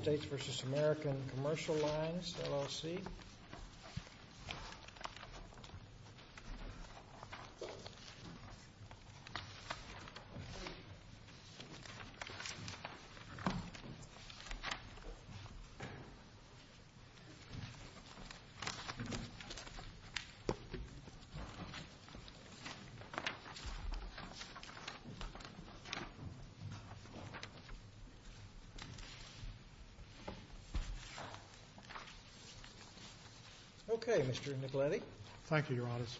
States v. American Commercial Lines, LLC States v. American Commercial Lines, LLC States v. American Commercial Lines, LLC States v. American Commercial Lines, LLC States v. American Commercial Lines, LLC If you search this record, I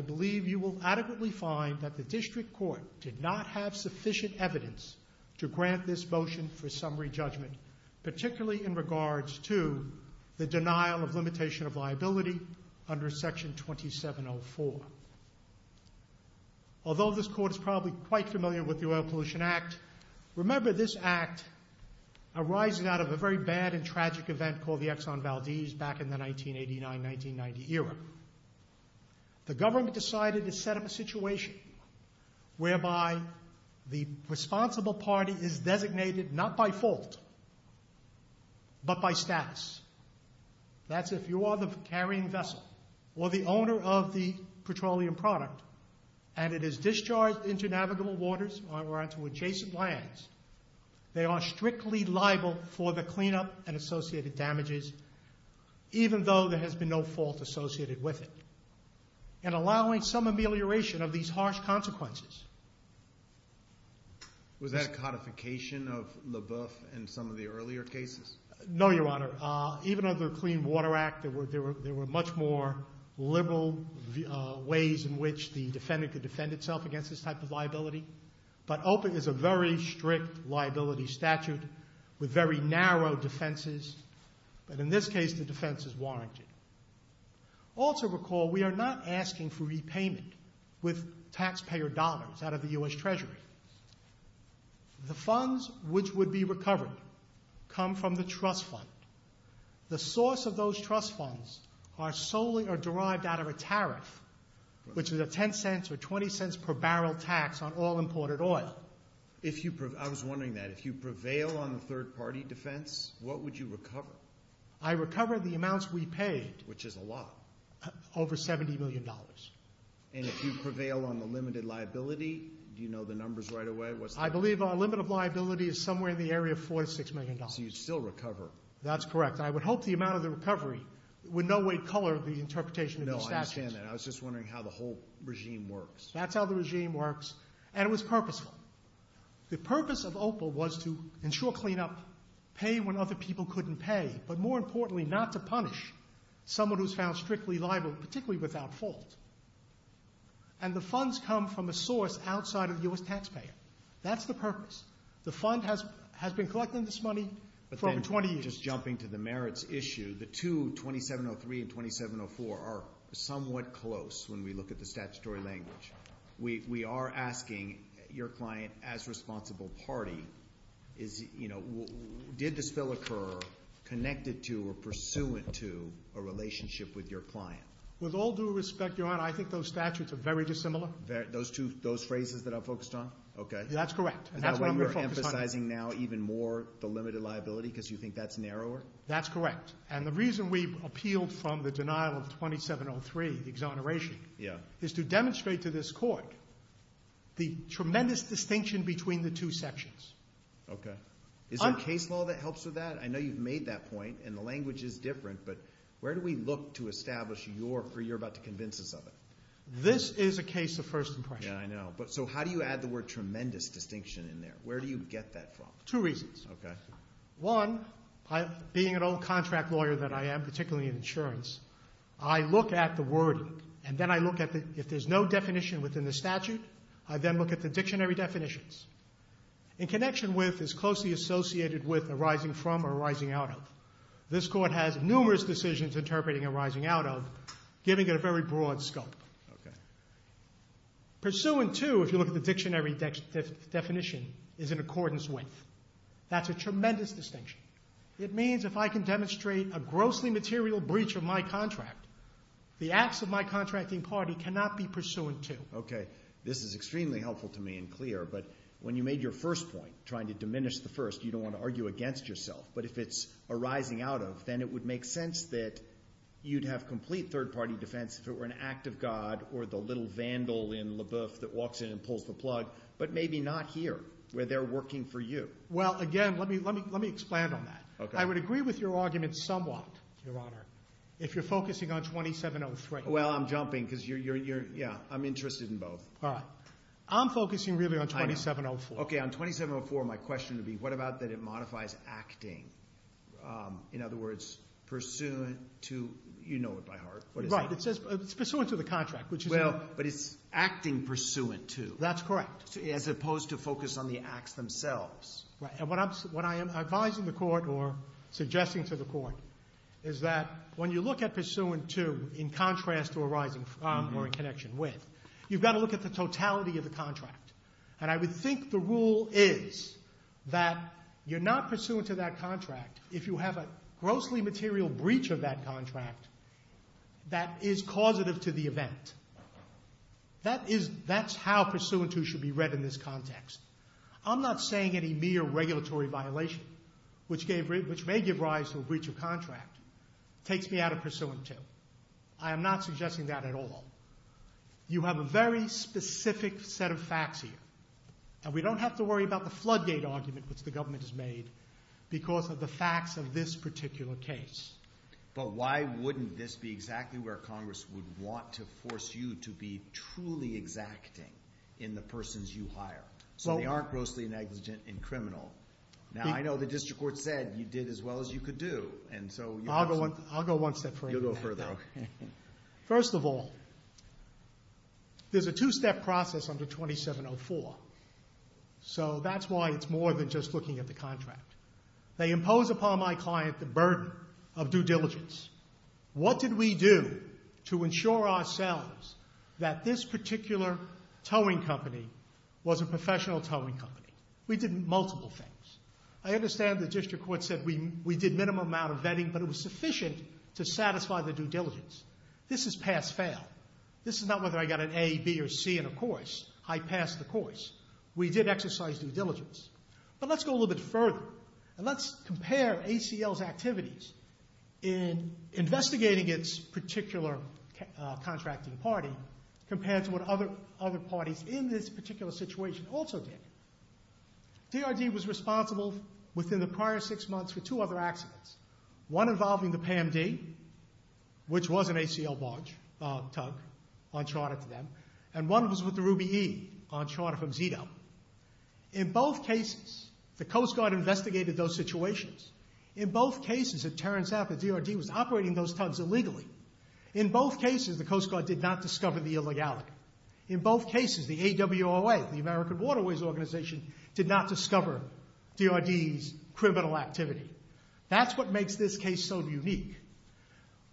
believe you will adequately find that the District Court did not have sufficient evidence to grant this motion for summary judgment, particularly in regards to the denial of limitation of liability under Section 2704. Although this Court is probably quite familiar with the Oil Pollution Act, remember this Act arises out of a very bad and tragic event called the Exxon Valdez back in the 1989-1990 era. The government decided to set up a situation whereby the responsible party is designated not by fault but by status. That's if you are the carrying vessel or the owner of the petroleum product and it is discharged into navigable waters or into adjacent lands, they are strictly liable for the cleanup and associated damages, even though there has been no fault associated with it, and allowing some amelioration of these harsh consequences. Was that a codification of LaBeouf in some of the earlier cases? No, Your Honor. Even under the Clean Water Act, there were much more liberal ways in which the defendant could defend itself against this type of liability. But open is a very strict liability statute with very narrow defenses, but in this case the defense is warranted. Also recall we are not asking for repayment with taxpayer dollars out of the U.S. Treasury. The funds which would be recovered come from the trust fund. The source of those trust funds are solely derived out of a tariff, which is a $0.10 or $0.20 per barrel tax on all imported oil. I was wondering that. If you prevail on the third party defense, what would you recover? I recover the amounts we paid. Which is a lot. Over $70 million. And if you prevail on the limited liability, do you know the numbers right away? I believe our limit of liability is somewhere in the area of $46 million. So you'd still recover? That's correct. I would hope the amount of the recovery would in no way color the interpretation of the statute. No, I understand that. I was just wondering how the whole regime works. That's how the regime works, and it was purposeful. The purpose of OPA was to ensure cleanup, pay when other people couldn't pay, but more importantly not to punish someone who's found strictly liable, particularly without fault. And the funds come from a source outside of the U.S. taxpayer. That's the purpose. The fund has been collecting this money for over 20 years. But then, just jumping to the merits issue, the two, 2703 and 2704, are somewhat close when we look at the statutory language. We are asking your client as responsible party, did the spill occur connected to or pursuant to a relationship with your client? With all due respect, Your Honor, I think those statutes are very dissimilar. Those phrases that I focused on? That's correct. Is that why you're emphasizing now even more the limited liability because you think that's narrower? That's correct. And the reason we appealed from the denial of 2703, the exoneration, is to demonstrate to this court the tremendous distinction between the two sections. Okay. Is there a case law that helps with that? I know you've made that point, and the language is different, but where do we look to establish you're about to convince us of it? This is a case of first impression. Yeah, I know. So how do you add the word tremendous distinction in there? Where do you get that from? Two reasons. Okay. One, being an old contract lawyer that I am, particularly in insurance, I look at the wording, and then I look at if there's no definition within the statute, I then look at the dictionary definitions. In connection with is closely associated with arising from or arising out of. This court has numerous decisions interpreting arising out of, giving it a very broad scope. Okay. Pursuant to, if you look at the dictionary definition, is in accordance with. That's a tremendous distinction. It means if I can demonstrate a grossly material breach of my contract, the acts of my contracting party cannot be pursuant to. Okay. This is extremely helpful to me and clear, but when you made your first point, trying to diminish the first, you don't want to argue against yourself. But if it's arising out of, then it would make sense that you'd have complete third-party defense if it were an act of God or the little vandal in LaBeouf that walks in and pulls the plug, but maybe not here where they're working for you. Well, again, let me explain on that. Okay. I would agree with your argument somewhat, Your Honor, if you're focusing on 2703. Well, I'm jumping because you're, yeah, I'm interested in both. All right. I'm focusing really on 2704. Okay. On 2704, my question would be what about that it modifies acting? In other words, pursuant to, you know it by heart. Right. It says it's pursuant to the contract. Well, but it's acting pursuant to. That's correct. As opposed to focus on the acts themselves. Right. And what I am advising the Court or suggesting to the Court is that when you look at pursuant to in contrast to arising from or in connection with, you've got to look at the totality of the contract. And I would think the rule is that you're not pursuant to that contract if you have a grossly material breach of that contract that is causative to the event. That's how pursuant to should be read in this context. I'm not saying any mere regulatory violation, which may give rise to a breach of contract, takes me out of pursuant to. I am not suggesting that at all. You have a very specific set of facts here. And we don't have to worry about the floodgate argument, which the government has made, because of the facts of this particular case. But why wouldn't this be exactly where Congress would want to force you to be truly exacting in the persons you hire? So they aren't grossly negligent and criminal. Now, I know the District Court said you did as well as you could do. I'll go one step further. You'll go further. First of all, there's a two-step process under 2704. So that's why it's more than just looking at the contract. They impose upon my client the burden of due diligence. What did we do to ensure ourselves that this particular towing company was a professional towing company? We did multiple things. I understand the District Court said we did minimum amount of vetting, but it was sufficient to satisfy the due diligence. This is pass-fail. This is not whether I got an A, B, or C in a course. I passed the course. We did exercise due diligence. But let's go a little bit further, and let's compare ACL's activities in investigating its particular contracting party compared to what other parties in this particular situation also did. DRD was responsible within the prior six months for two other accidents, one involving the PAMD, which was an ACL barge tug on charter to them, and one was with the Ruby E on charter from ZETO. In both cases, the Coast Guard investigated those situations. In both cases, at Terrance Aft, the DRD was operating those tugs illegally. In both cases, the Coast Guard did not discover the illegality. In both cases, the AWOA, the American Waterways Organization, did not discover DRD's criminal activity. That's what makes this case so unique.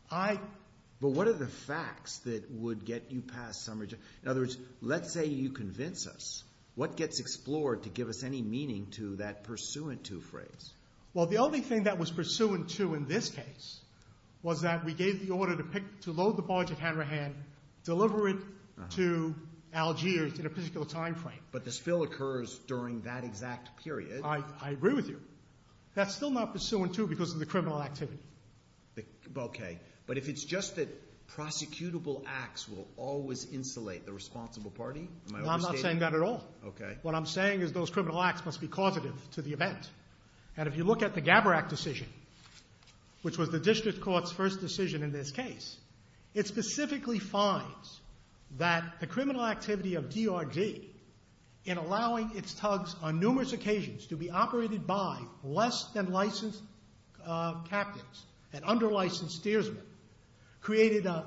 But what are the facts that would get you past summary judgment? In other words, let's say you convince us. What gets explored to give us any meaning to that pursuant to phrase? Well, the only thing that was pursuant to in this case was that we gave the order to load the barge at Hanrahan, deliver it to Algiers in a particular time frame. But the spill occurs during that exact period. I agree with you. That's still not pursuant to because of the criminal activity. Okay. But if it's just that prosecutable acts will always insulate the responsible party, am I overstating? No, I'm not saying that at all. Okay. What I'm saying is those criminal acts must be causative to the event. And if you look at the Gabarak decision, which was the district court's first decision in this case, it specifically finds that the criminal activity of DRD in allowing its tugs on numerous occasions to be operated by less than licensed captains and under-licensed steersmen created an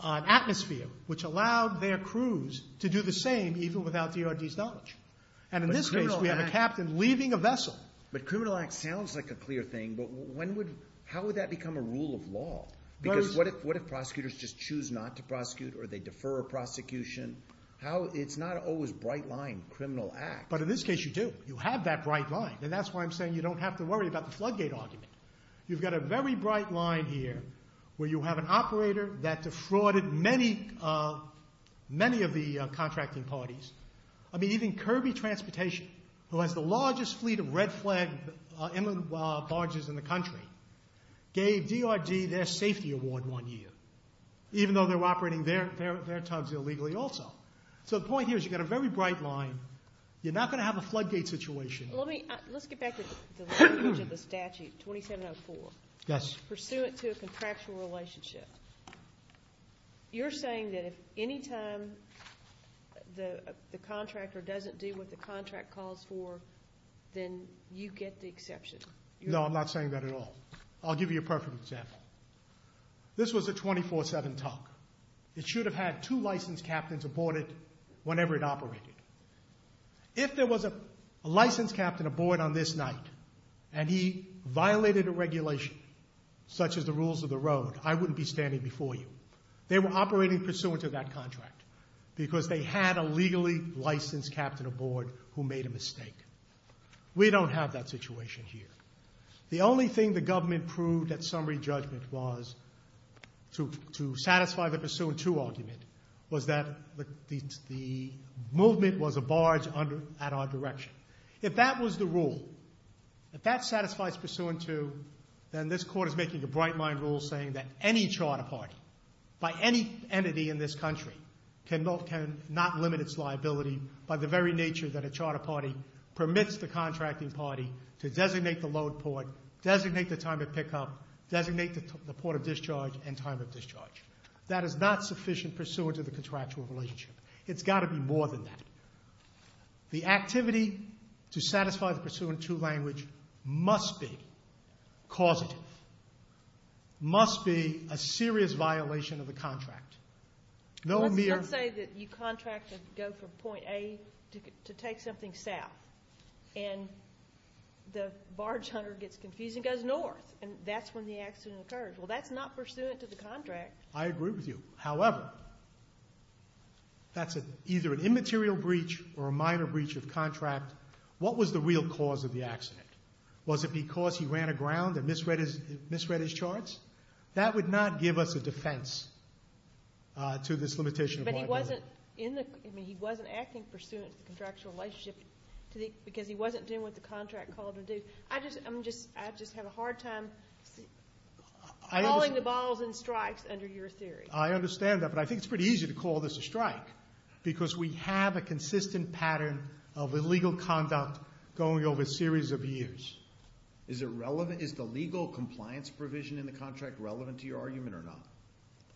atmosphere which allowed their crews to do the same even without DRD's knowledge. And in this case, we have a captain leaving a vessel. But criminal acts sounds like a clear thing, but how would that become a rule of law? Because what if prosecutors just choose not to prosecute or they defer a prosecution? It's not always a bright line criminal act. But in this case, you do. You have that bright line. And that's why I'm saying you don't have to worry about the floodgate argument. You've got a very bright line here where you have an operator that defrauded many of the contracting parties. I mean, even Kirby Transportation, who has the largest fleet of red flag inland barges in the country, gave DRD their safety award one year, even though they're operating their tugs illegally also. So the point here is you've got a very bright line. You're not going to have a floodgate situation. Let's get back to the language of the statute, 2704. Yes. Pursuant to a contractual relationship, you're saying that if any time the contractor doesn't do what the contract calls for, then you get the exception. No, I'm not saying that at all. I'll give you a perfect example. This was a 24-7 tug. It should have had two licensed captains aboard it whenever it operated. If there was a licensed captain aboard on this night and he violated a regulation such as the rules of the road, I wouldn't be standing before you. They were operating pursuant to that contract because they had a legally licensed captain aboard who made a mistake. We don't have that situation here. The only thing the government proved at summary judgment was to satisfy the pursuant to argument was that the movement was a barge at our direction. If that was the rule, if that satisfies pursuant to, then this Court is making a bright-line rule saying that any charter party by any entity in this country cannot limit its liability by the very nature that a charter party permits the contracting party to designate the load port, designate the time of pickup, designate the port of discharge, and time of discharge. That is not sufficient pursuant to the contractual relationship. It's got to be more than that. The activity to satisfy the pursuant to language must be causative, must be a serious violation of the contract. Let's say that you contract to go from point A to take something south, and the barge hunter gets confused and goes north, and that's when the accident occurs. Well, that's not pursuant to the contract. I agree with you. However, that's either an immaterial breach or a minor breach of contract. What was the real cause of the accident? Was it because he ran aground and misread his charts? That would not give us a defense to this limitation of liability. But he wasn't acting pursuant to the contractual relationship because he wasn't doing what the contract called him to do. I just have a hard time calling the balls and strikes under your theory. I understand that, but I think it's pretty easy to call this a strike because we have a consistent pattern of illegal conduct going over a series of years. Is the legal compliance provision in the contract relevant to your argument or not?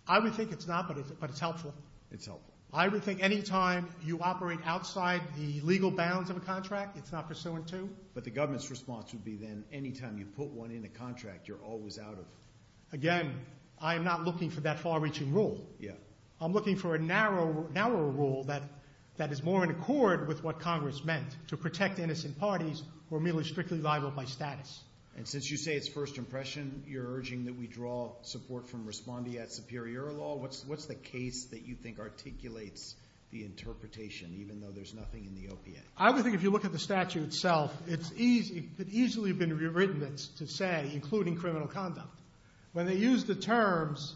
I would think it's not, but it's helpful. It's helpful. I would think any time you operate outside the legal bounds of a contract, it's not pursuant to. But the government's response would be then any time you put one in a contract, you're always out of it. Again, I am not looking for that far-reaching rule. I'm looking for a narrower rule that is more in accord with what Congress meant, to protect innocent parties who are merely strictly liable by status. And since you say it's first impression, you're urging that we draw support from respondeat superior law, what's the case that you think articulates the interpretation, even though there's nothing in the OPA? I would think if you look at the statute itself, it could easily have been rewritten to say including criminal conduct. When they used the terms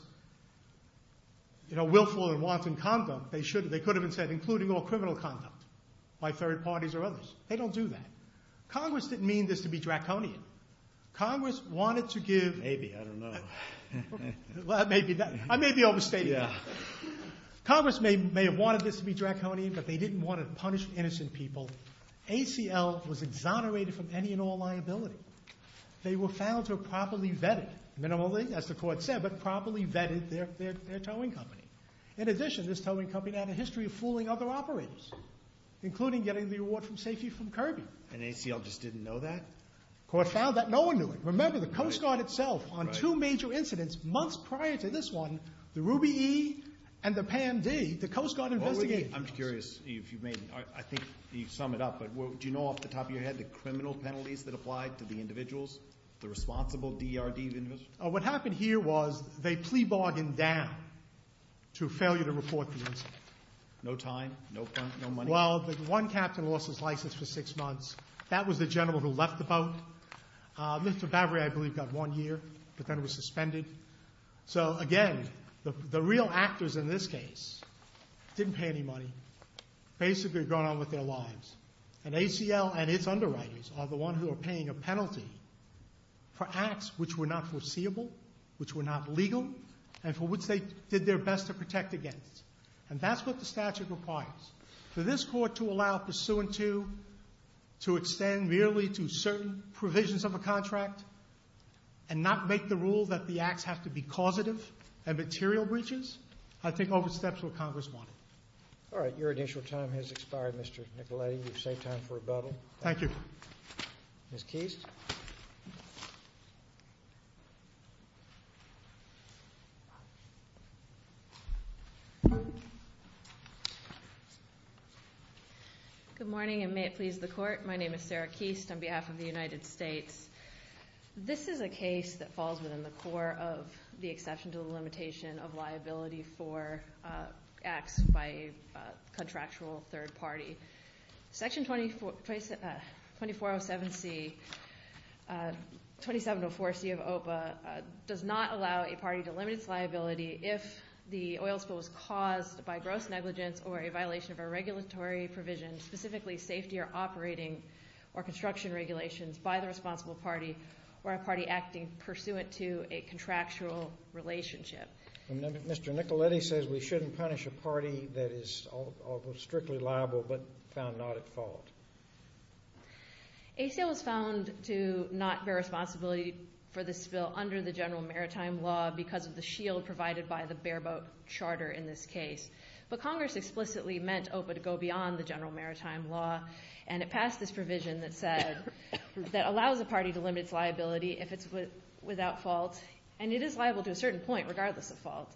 willful and wanton conduct, they could have said including all criminal conduct by third parties or others. They don't do that. Congress didn't mean this to be draconian. Congress wanted to give- Maybe, I don't know. I may be overstating. Congress may have wanted this to be draconian, but they didn't want to punish innocent people. ACL was exonerated from any and all liability. They were found to have properly vetted, minimally, as the court said, but properly vetted their towing company. In addition, this towing company had a history of fooling other operators, including getting the reward for safety from Kirby. And ACL just didn't know that? The court found that. No one knew it. Remember, the Coast Guard itself on two major incidents months prior to this one, the Ruby E and the Pan D, the Coast Guard investigation. I'm curious if you may, I think you sum it up, but do you know off the top of your head the criminal penalties that applied to the individuals, the responsible DRD individuals? What happened here was they plea bargained down to failure to report the incident. No time, no money? Well, one captain lost his license for six months. That was the general who left the boat. Mr. Bavary, I believe, got one year, but then it was suspended. So, again, the real actors in this case didn't pay any money, basically going on with their lives. And ACL and its underwriters are the ones who are paying a penalty for acts which were not foreseeable, which were not legal, and for which they did their best to protect against. And that's what the statute requires. For this court to allow pursuant to to extend merely to certain provisions of a contract and not make the rule that the acts have to be causative and material breaches, I think oversteps what Congress wanted. All right. Your initial time has expired, Mr. Nicoletti. You've saved time for rebuttal. Thank you. Ms. Keist. Good morning, and may it please the Court. My name is Sarah Keist on behalf of the United States. This is a case that falls within the core of the exception to the limitation of liability for acts by a contractual third party. Section 2407C, 2704C of OPA does not allow a party to limit its liability if the oil spill was caused by gross negligence or a violation of a regulatory provision, specifically safety or operating or construction regulations by the responsible party or a party acting pursuant to a contractual relationship. Mr. Nicoletti says we shouldn't punish a party that is strictly liable but found not at fault. A sale was found to not bear responsibility for the spill under the general maritime law because of the shield provided by the bare boat charter in this case. But Congress explicitly meant OPA to go beyond the general maritime law, and it passed this provision that allows a party to limit its liability if it's without fault, and it is liable to a certain point regardless of fault,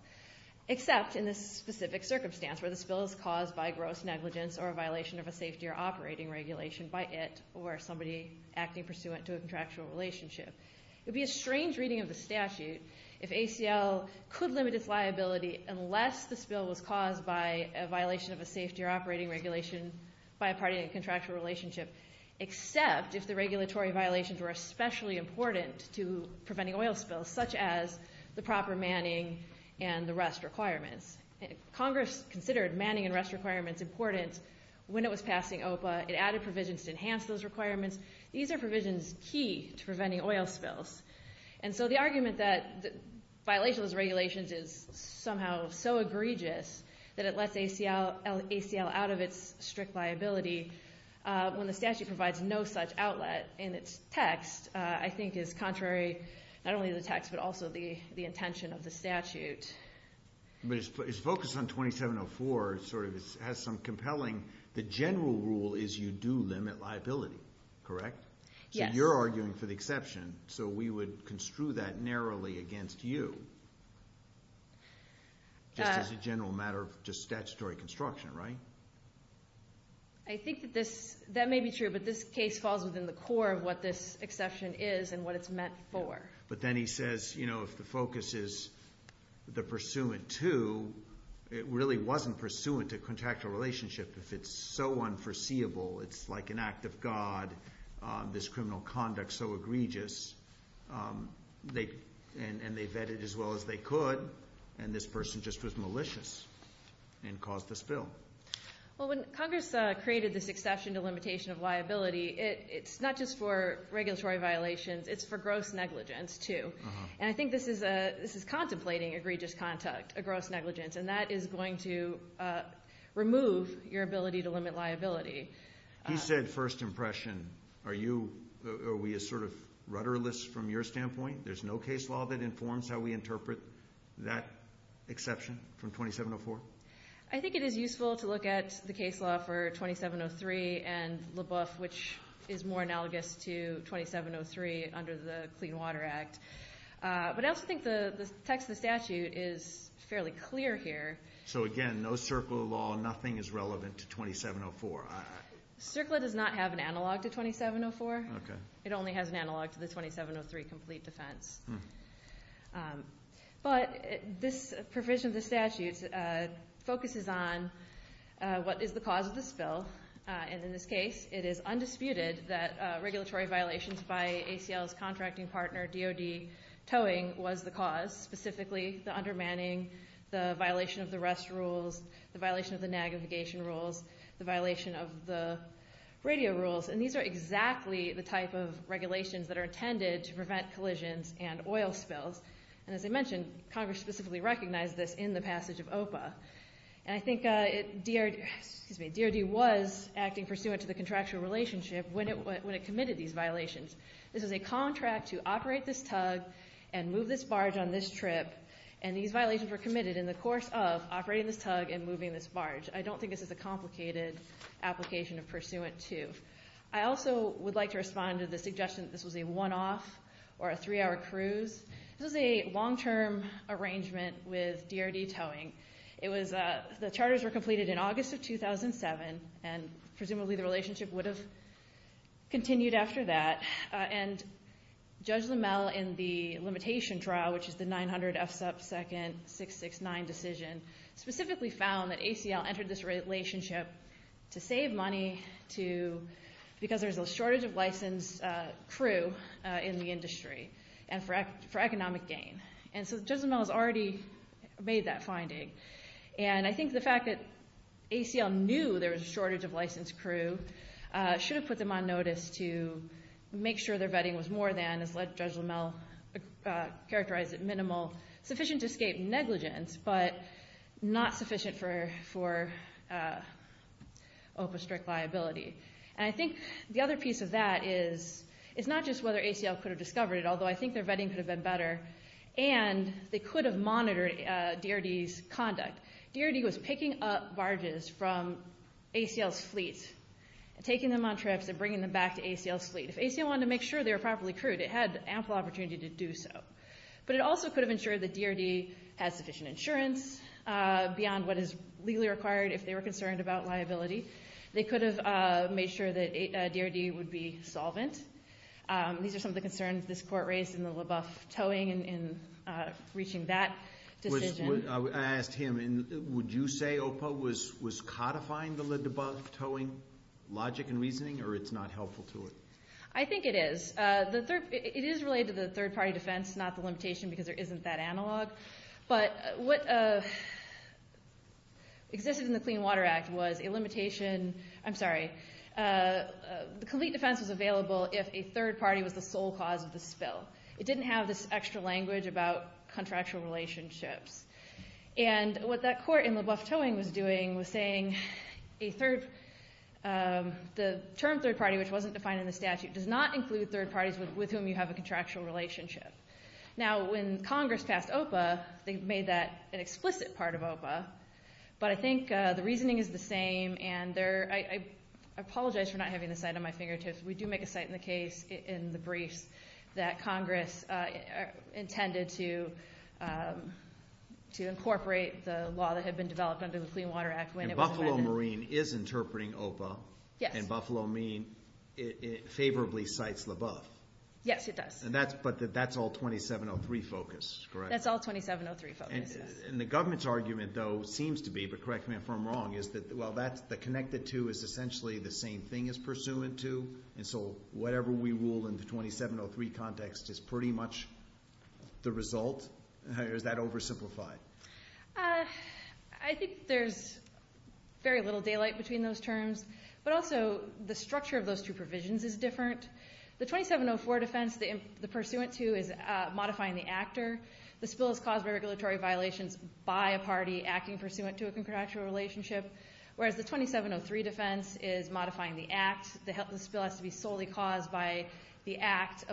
except in this specific circumstance where the spill is caused by gross negligence or a violation of a safety or operating regulation by it or somebody acting pursuant to a contractual relationship. It would be a strange reading of the statute if ACL could limit its liability unless the spill was caused by a violation of a safety or operating regulation by a party in a contractual relationship, except if the regulatory violations were especially important to preventing oil spills, such as the proper manning and the rest requirements. Congress considered manning and rest requirements important when it was passing OPA. It added provisions to enhance those requirements. These are provisions key to preventing oil spills. And so the argument that violation of those regulations is somehow so egregious that it lets ACL out of its strict liability when the statute provides no such outlet in its text, I think is contrary not only to the text but also the intention of the statute. But its focus on 2704 sort of has some compelling. The general rule is you do limit liability, correct? Yes. So you're arguing for the exception, so we would construe that narrowly against you just as a general matter of just statutory construction, right? I think that this may be true, but this case falls within the core of what this exception is and what it's meant for. But then he says, you know, if the focus is the pursuant to, it really wasn't pursuant to contractual relationship if it's so unforeseeable. It's like an act of God, this criminal conduct so egregious. And they vetted as well as they could, and this person just was malicious and caused the spill. Well, when Congress created this exception to limitation of liability, it's not just for regulatory violations. It's for gross negligence too. And I think this is contemplating egregious conduct, a gross negligence, and that is going to remove your ability to limit liability. He said first impression. Are we sort of rudderless from your standpoint? There's no case law that informs how we interpret that exception from 2704? I think it is useful to look at the case law for 2703 and LaBeouf, which is more analogous to 2703 under the Clean Water Act. But I also think the text of the statute is fairly clear here. So, again, no CERCLA law, nothing is relevant to 2704. CERCLA does not have an analog to 2704. It only has an analog to the 2703 complete defense. But this provision of the statute focuses on what is the cause of the spill, and in this case it is undisputed that regulatory violations by ACL's contracting partner, DOD, towing was the cause, specifically the undermining, the violation of the rest rules, the violation of the naggification rules, the violation of the radio rules. And these are exactly the type of regulations that are intended to prevent collisions and oil spills. And as I mentioned, Congress specifically recognized this in the passage of OPA. And I think DOD was acting pursuant to the contractual relationship when it committed these violations. This is a contract to operate this tug and move this barge on this trip, and these violations were committed in the course of operating this tug and moving this barge. I don't think this is a complicated application of pursuant to. I also would like to respond to the suggestion that this was a one-off or a three-hour cruise. This was a long-term arrangement with DRD Towing. The charters were completed in August of 2007, and presumably the relationship would have continued after that. And Judge Limmel in the limitation trial, which is the 900 F sub second 669 decision, specifically found that ACL entered this relationship to save money because there's a shortage of licensed crew in the industry and for economic gain. And so Judge Limmel has already made that finding. And I think the fact that ACL knew there was a shortage of licensed crew should have put them on notice to make sure their vetting was more than, as Judge Limmel characterized it, minimal, sufficient to escape negligence, but not sufficient for OPA strict liability. And I think the other piece of that is not just whether ACL could have discovered it, although I think their vetting could have been better, and they could have monitored DRD's conduct. DRD was picking up barges from ACL's fleet and taking them on trips and bringing them back to ACL's fleet. If ACL wanted to make sure they were properly crewed, it had ample opportunity to do so. But it also could have ensured that DRD had sufficient insurance beyond what is legally required if they were concerned about liability. They could have made sure that DRD would be solvent. These are some of the concerns this Court raised in the LaBeouf towing and reaching that decision. I asked him, would you say OPA was codifying the LaBeouf towing logic and reasoning, or it's not helpful to it? I think it is. It is related to the third-party defense, not the limitation, because there isn't that analog. But what existed in the Clean Water Act was a limitation. I'm sorry. The complete defense was available if a third party was the sole cause of the spill. It didn't have this extra language about contractual relationships. And what that Court in LaBeouf towing was doing was saying the term third party, which wasn't defined in the statute, does not include third parties with whom you have a contractual relationship. Now, when Congress passed OPA, they made that an explicit part of OPA. But I think the reasoning is the same. And I apologize for not having the cite on my fingertips. We do make a cite in the briefs that Congress intended to incorporate the law that had been developed under the Clean Water Act when it was amended. And Buffalo Marine is interpreting OPA. Yes. And Buffalo Marine favorably cites LaBeouf. Yes, it does. But that's all 2703 focus, correct? That's all 2703 focus, yes. And the government's argument, though, seems to be, but correct me if I'm wrong, is that while the connected to is essentially the same thing as pursuant to, and so whatever we rule in the 2703 context is pretty much the result. Is that oversimplified? I think there's very little daylight between those terms. But also the structure of those two provisions is different. The 2704 defense, the pursuant to is modifying the actor. The spill is caused by regulatory violations by a party acting pursuant to a contractual relationship, whereas the 2703 defense is modifying the act. The spill has to be solely caused by the act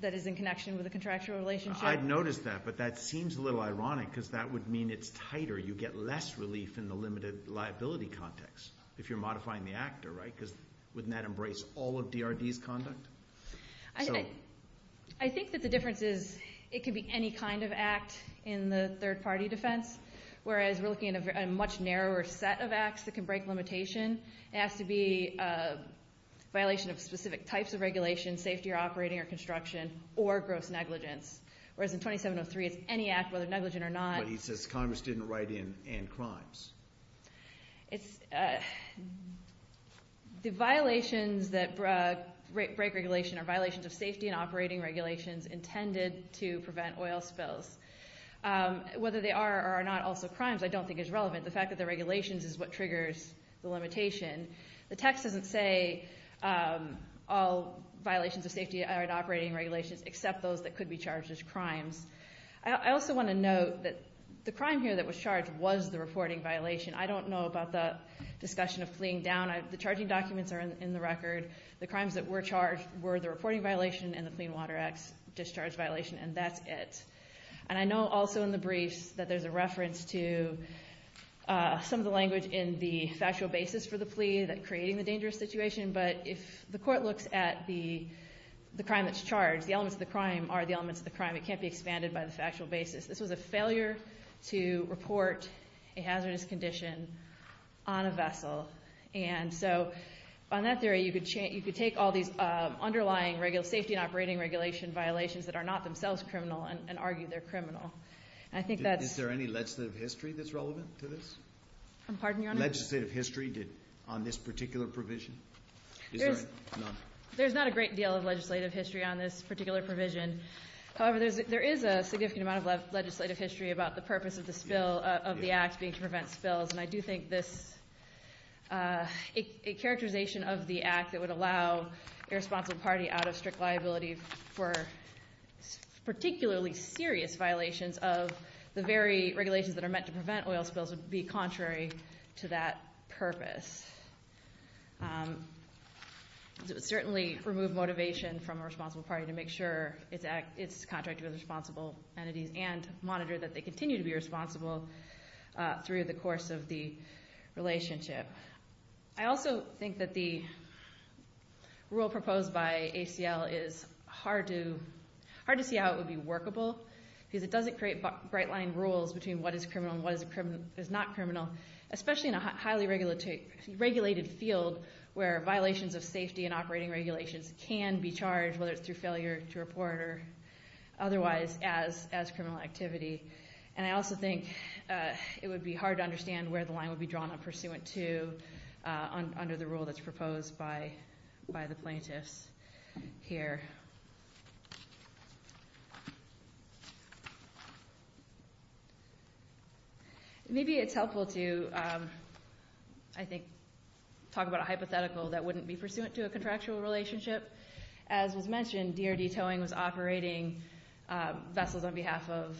that is in connection with a contractual relationship. I've noticed that, but that seems a little ironic because that would mean it's tighter. You get less relief in the limited liability context if you're modifying the actor, right, because wouldn't that embrace all of DRD's conduct? I think that the difference is it could be any kind of act in the third-party defense, whereas we're looking at a much narrower set of acts that can break limitation. It has to be a violation of specific types of regulation, safety or operating or construction, or gross negligence, whereas in 2703 it's any act, whether negligent or not. He says Congress didn't write in crimes. The violations that break regulation are violations of safety and operating regulations intended to prevent oil spills. Whether they are or are not also crimes I don't think is relevant. The fact that they're regulations is what triggers the limitation. The text doesn't say all violations of safety and operating regulations except those that could be charged as crimes. I also want to note that the crime here that was charged was the reporting violation. I don't know about the discussion of fleeing down. The charging documents are in the record. The crimes that were charged were the reporting violation and the Clean Water Act's discharge violation, and that's it. And I know also in the briefs that there's a reference to some of the language in the factual basis for the plea that creating the dangerous situation, but if the court looks at the crime that's charged, the elements of the crime are the elements of the crime. It can't be expanded by the factual basis. This was a failure to report a hazardous condition on a vessel, and so on that theory you could take all these underlying safety and operating regulation violations that are not themselves criminal and argue they're criminal. Is there any legislative history that's relevant to this? I'm pardon, Your Honor? Legislative history on this particular provision? There's not a great deal of legislative history on this particular provision. However, there is a significant amount of legislative history about the purpose of the Act being to prevent spills, and I do think a characterization of the Act that would allow a responsible party out of strict liability for particularly serious violations of the very regulations that are meant to prevent oil spills would be contrary to that purpose. It would certainly remove motivation from a responsible party to make sure it's contracted with responsible entities and monitor that they continue to be responsible through the course of the relationship. I also think that the rule proposed by HCL is hard to see how it would be workable because it doesn't create bright-line rules between what is criminal and what is not criminal, especially in a highly regulated field where violations of safety and operating regulations can be charged, whether it's through failure to report or otherwise, as criminal activity. And I also think it would be hard to understand where the line would be drawn on pursuant to under the rule that's proposed by the plaintiffs here. Maybe it's helpful to, I think, talk about a hypothetical that wouldn't be pursuant to a contractual relationship. As was mentioned, DRD Towing was operating vessels on behalf of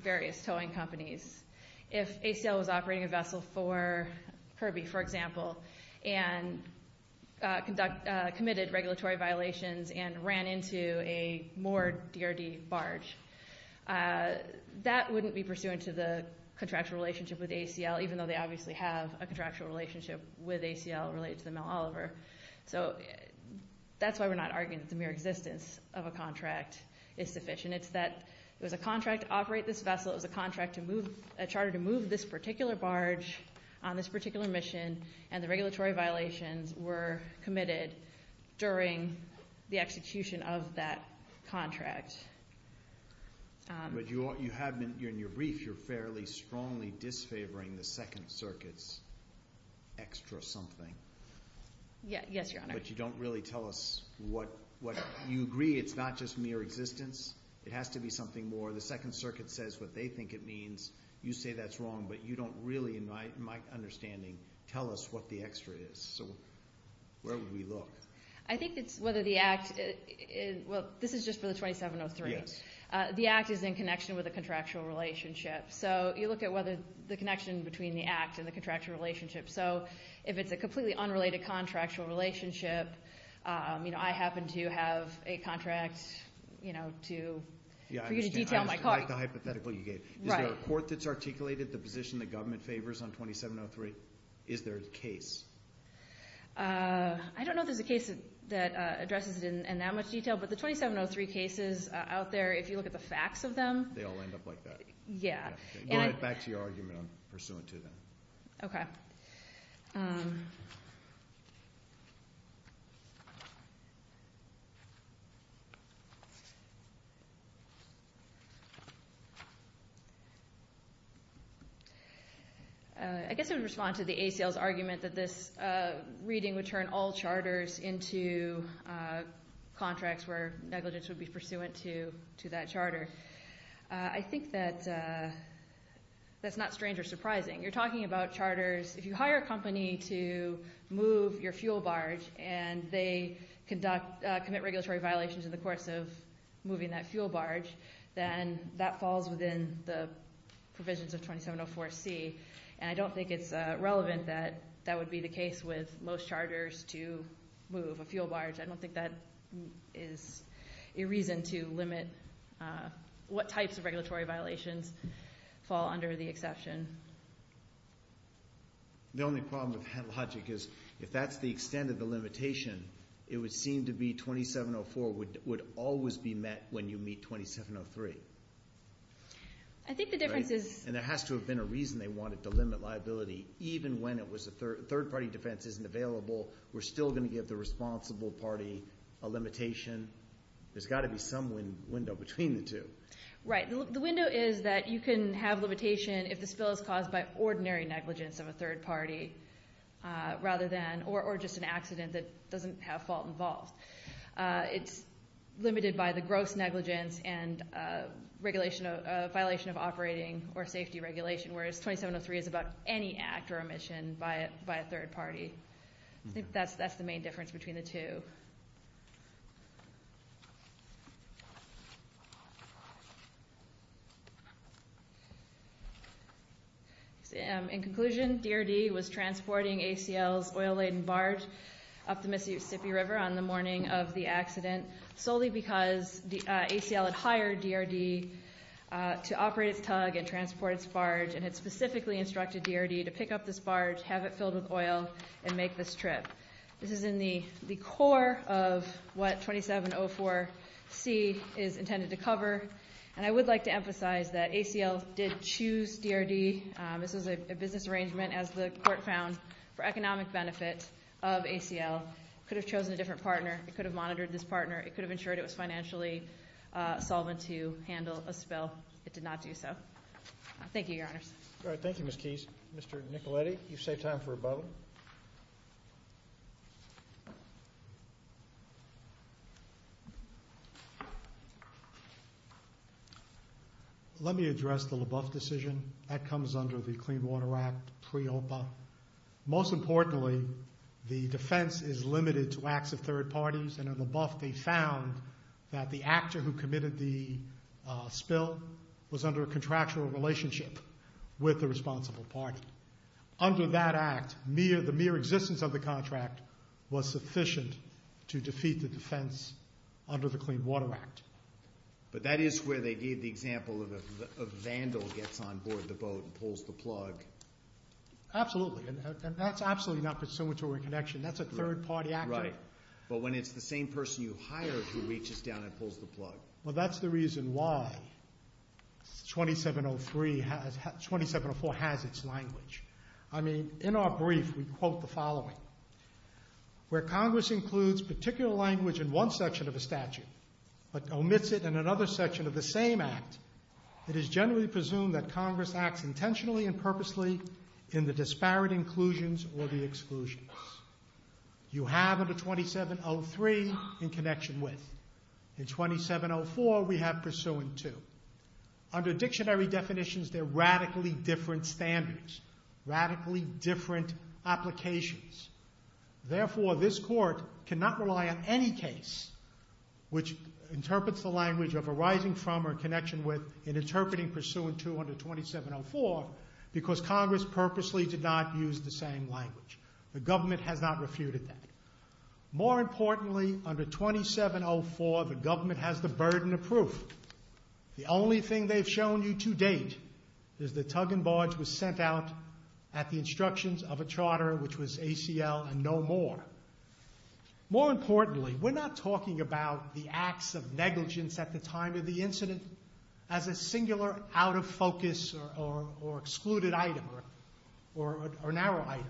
various towing companies. If HCL was operating a vessel for Kirby, for example, and committed regulatory violations and ran into a moored DRD barge, that wouldn't be pursuant to the contractual relationship with HCL, even though they obviously have a contractual relationship with HCL related to the Mount Oliver. So that's why we're not arguing that the mere existence of a contract is sufficient. It's that it was a contract to operate this vessel. It was a charter to move this particular barge on this particular mission, and the regulatory violations were committed during the execution of that contract. But in your brief, you're fairly strongly disfavoring the Second Circuit's extra something. Yes, Your Honor. But you don't really tell us what you agree. It's not just mere existence. It has to be something more. The Second Circuit says what they think it means. You say that's wrong, but you don't really, in my understanding, tell us what the extra is. So where would we look? I think it's whether the Act is ñ well, this is just for the 2703. Yes. The Act is in connection with a contractual relationship. So you look at whether the connection between the Act and the contractual relationship. So if it's a completely unrelated contractual relationship, you know, I happen to have a contract, you know, to detail my car. Yeah, I understand. I like the hypothetical you gave. Right. Is there a court that's articulated the position the government favors on 2703? Is there a case? I don't know if there's a case that addresses it in that much detail. But the 2703 cases out there, if you look at the facts of them ñ They all end up like that. Yeah. Back to your argument on pursuant to that. Okay. I guess I would respond to the ACL's argument that this reading would turn all charters into contracts where negligence would be pursuant to that charter. I think that that's not strange or surprising. You're talking about charters. If you hire a company to move your fuel barge and they commit regulatory violations in the course of moving that fuel barge, then that falls within the provisions of 2704C. And I don't think it's relevant that that would be the case with most charters to move a fuel barge. I don't think that is a reason to limit what types of regulatory violations fall under the exception. The only problem with that logic is if that's the extent of the limitation, it would seem to be 2704 would always be met when you meet 2703. I think the difference is ñ And there has to have been a reason they wanted to limit liability. Even when it was a third-party defense isn't available, we're still going to give the responsible party a limitation. There's got to be some window between the two. Right. The window is that you can have limitation if the spill is caused by ordinary negligence of a third party rather than or just an accident that doesn't have fault involved. It's limited by the gross negligence and violation of operating or safety regulation, whereas 2703 is about any act or omission by a third party. I think that's the main difference between the two. In conclusion, DRD was transporting ACL's oil-laden barge up the Mississippi River on the morning of the accident solely because ACL had hired DRD to operate its tug and transport its barge and had specifically instructed DRD to pick up this barge, have it filled with oil, and make this trip. This is in the core of what 2704C is intended to cover, and I would like to emphasize that ACL did choose DRD. This was a business arrangement, as the court found, for economic benefit of ACL. It could have chosen a different partner. It could have monitored this partner. It could have ensured it was financially solvent to handle a spill. It did not do so. Thank you, Your Honors. All right. Thank you, Ms. Keyes. Mr. Nicoletti, you've saved time for a bubble. Let me address the LaBeouf decision. That comes under the Clean Water Act pre-OPA. Most importantly, the defense is limited to acts of third parties, and in LaBeouf they found that the actor who committed the spill was under a contractual relationship with the responsible party. Under that act, the mere existence of the contract was sufficient to defeat the defense under the Clean Water Act. But that is where they gave the example of Vandal gets on board the boat and pulls the plug. Absolutely. And that's absolutely not pursuant to a reconnection. That's a third-party actor. Right. But when it's the same person you hired who reaches down and pulls the plug. Well, that's the reason why 2704 has its language. I mean, in our brief we quote the following. Where Congress includes particular language in one section of a statute but omits it in another section of the same act, it is generally presumed that Congress acts intentionally and purposely in the disparate inclusions or the exclusions. You have under 2703 in connection with. In 2704 we have pursuant to. Under dictionary definitions, they're radically different standards, radically different applications. Therefore, this court cannot rely on any case which interprets the language of arising from or connection with in interpreting pursuant to under 2704 because Congress purposely did not use the same language. The government has not refuted that. More importantly, under 2704 the government has the burden of proof. The only thing they've shown you to date is the tug and barge was sent out at the instructions of a charter which was ACL and no more. More importantly, we're not talking about the acts of negligence at the time of the incident as a singular out-of-focus or excluded item or narrow item.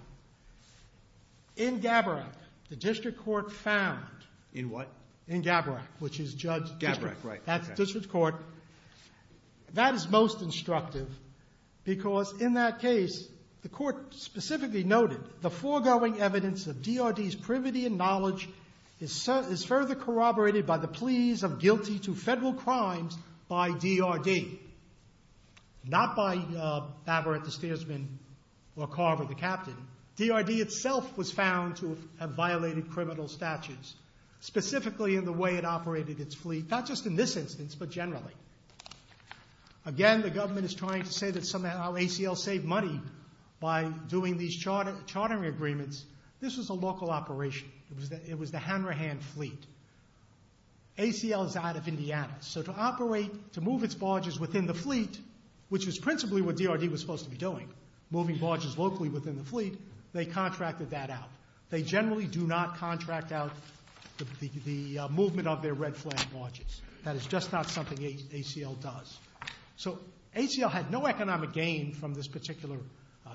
In Gabbarack, the district court found... In what? In Gabbarack, which is Judge... Gabbarack, right. That's district court. That is most instructive because in that case the court specifically noted the foregoing evidence of DRD's privity and knowledge is further corroborated by the pleas of guilty to federal crimes by DRD. Not by Babber at the stairsman or Carver the captain. DRD itself was found to have violated criminal statutes, specifically in the way it operated its fleet, not just in this instance but generally. Again, the government is trying to say that ACL saved money by doing these chartering agreements. This was a local operation. It was the Hanrahan fleet. ACL is out of Indiana. So to operate, to move its barges within the fleet, which is principally what DRD was supposed to be doing, moving barges locally within the fleet, they contracted that out. They generally do not contract out the movement of their red flag barges. That is just not something ACL does. So ACL had no economic gain from this particular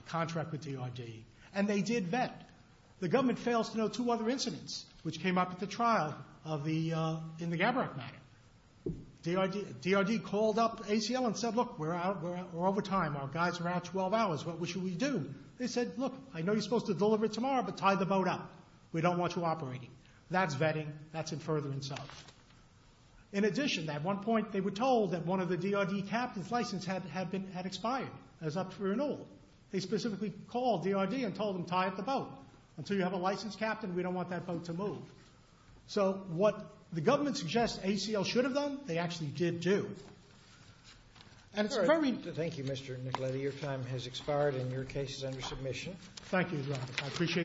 contract with DRD, and they did vet. The government fails to note two other incidents which came up at the trial in the Gaberack matter. DRD called up ACL and said, look, we're out, we're out, we're over time, our guys are out 12 hours, what should we do? They said, look, I know you're supposed to deliver it tomorrow, but tie the boat up. We don't want you operating. That's vetting. That's in furtherance of. In addition, at one point they were told that one of the DRD captains' licenses had expired. It was up for renewal. They specifically called DRD and told them, tie up the boat. Until you have a licensed captain, we don't want that boat to move. So what the government suggests ACL should have done, they actually did do. Thank you, Mr. Nicoletti. Your time has expired, and your case is under submission. Thank you.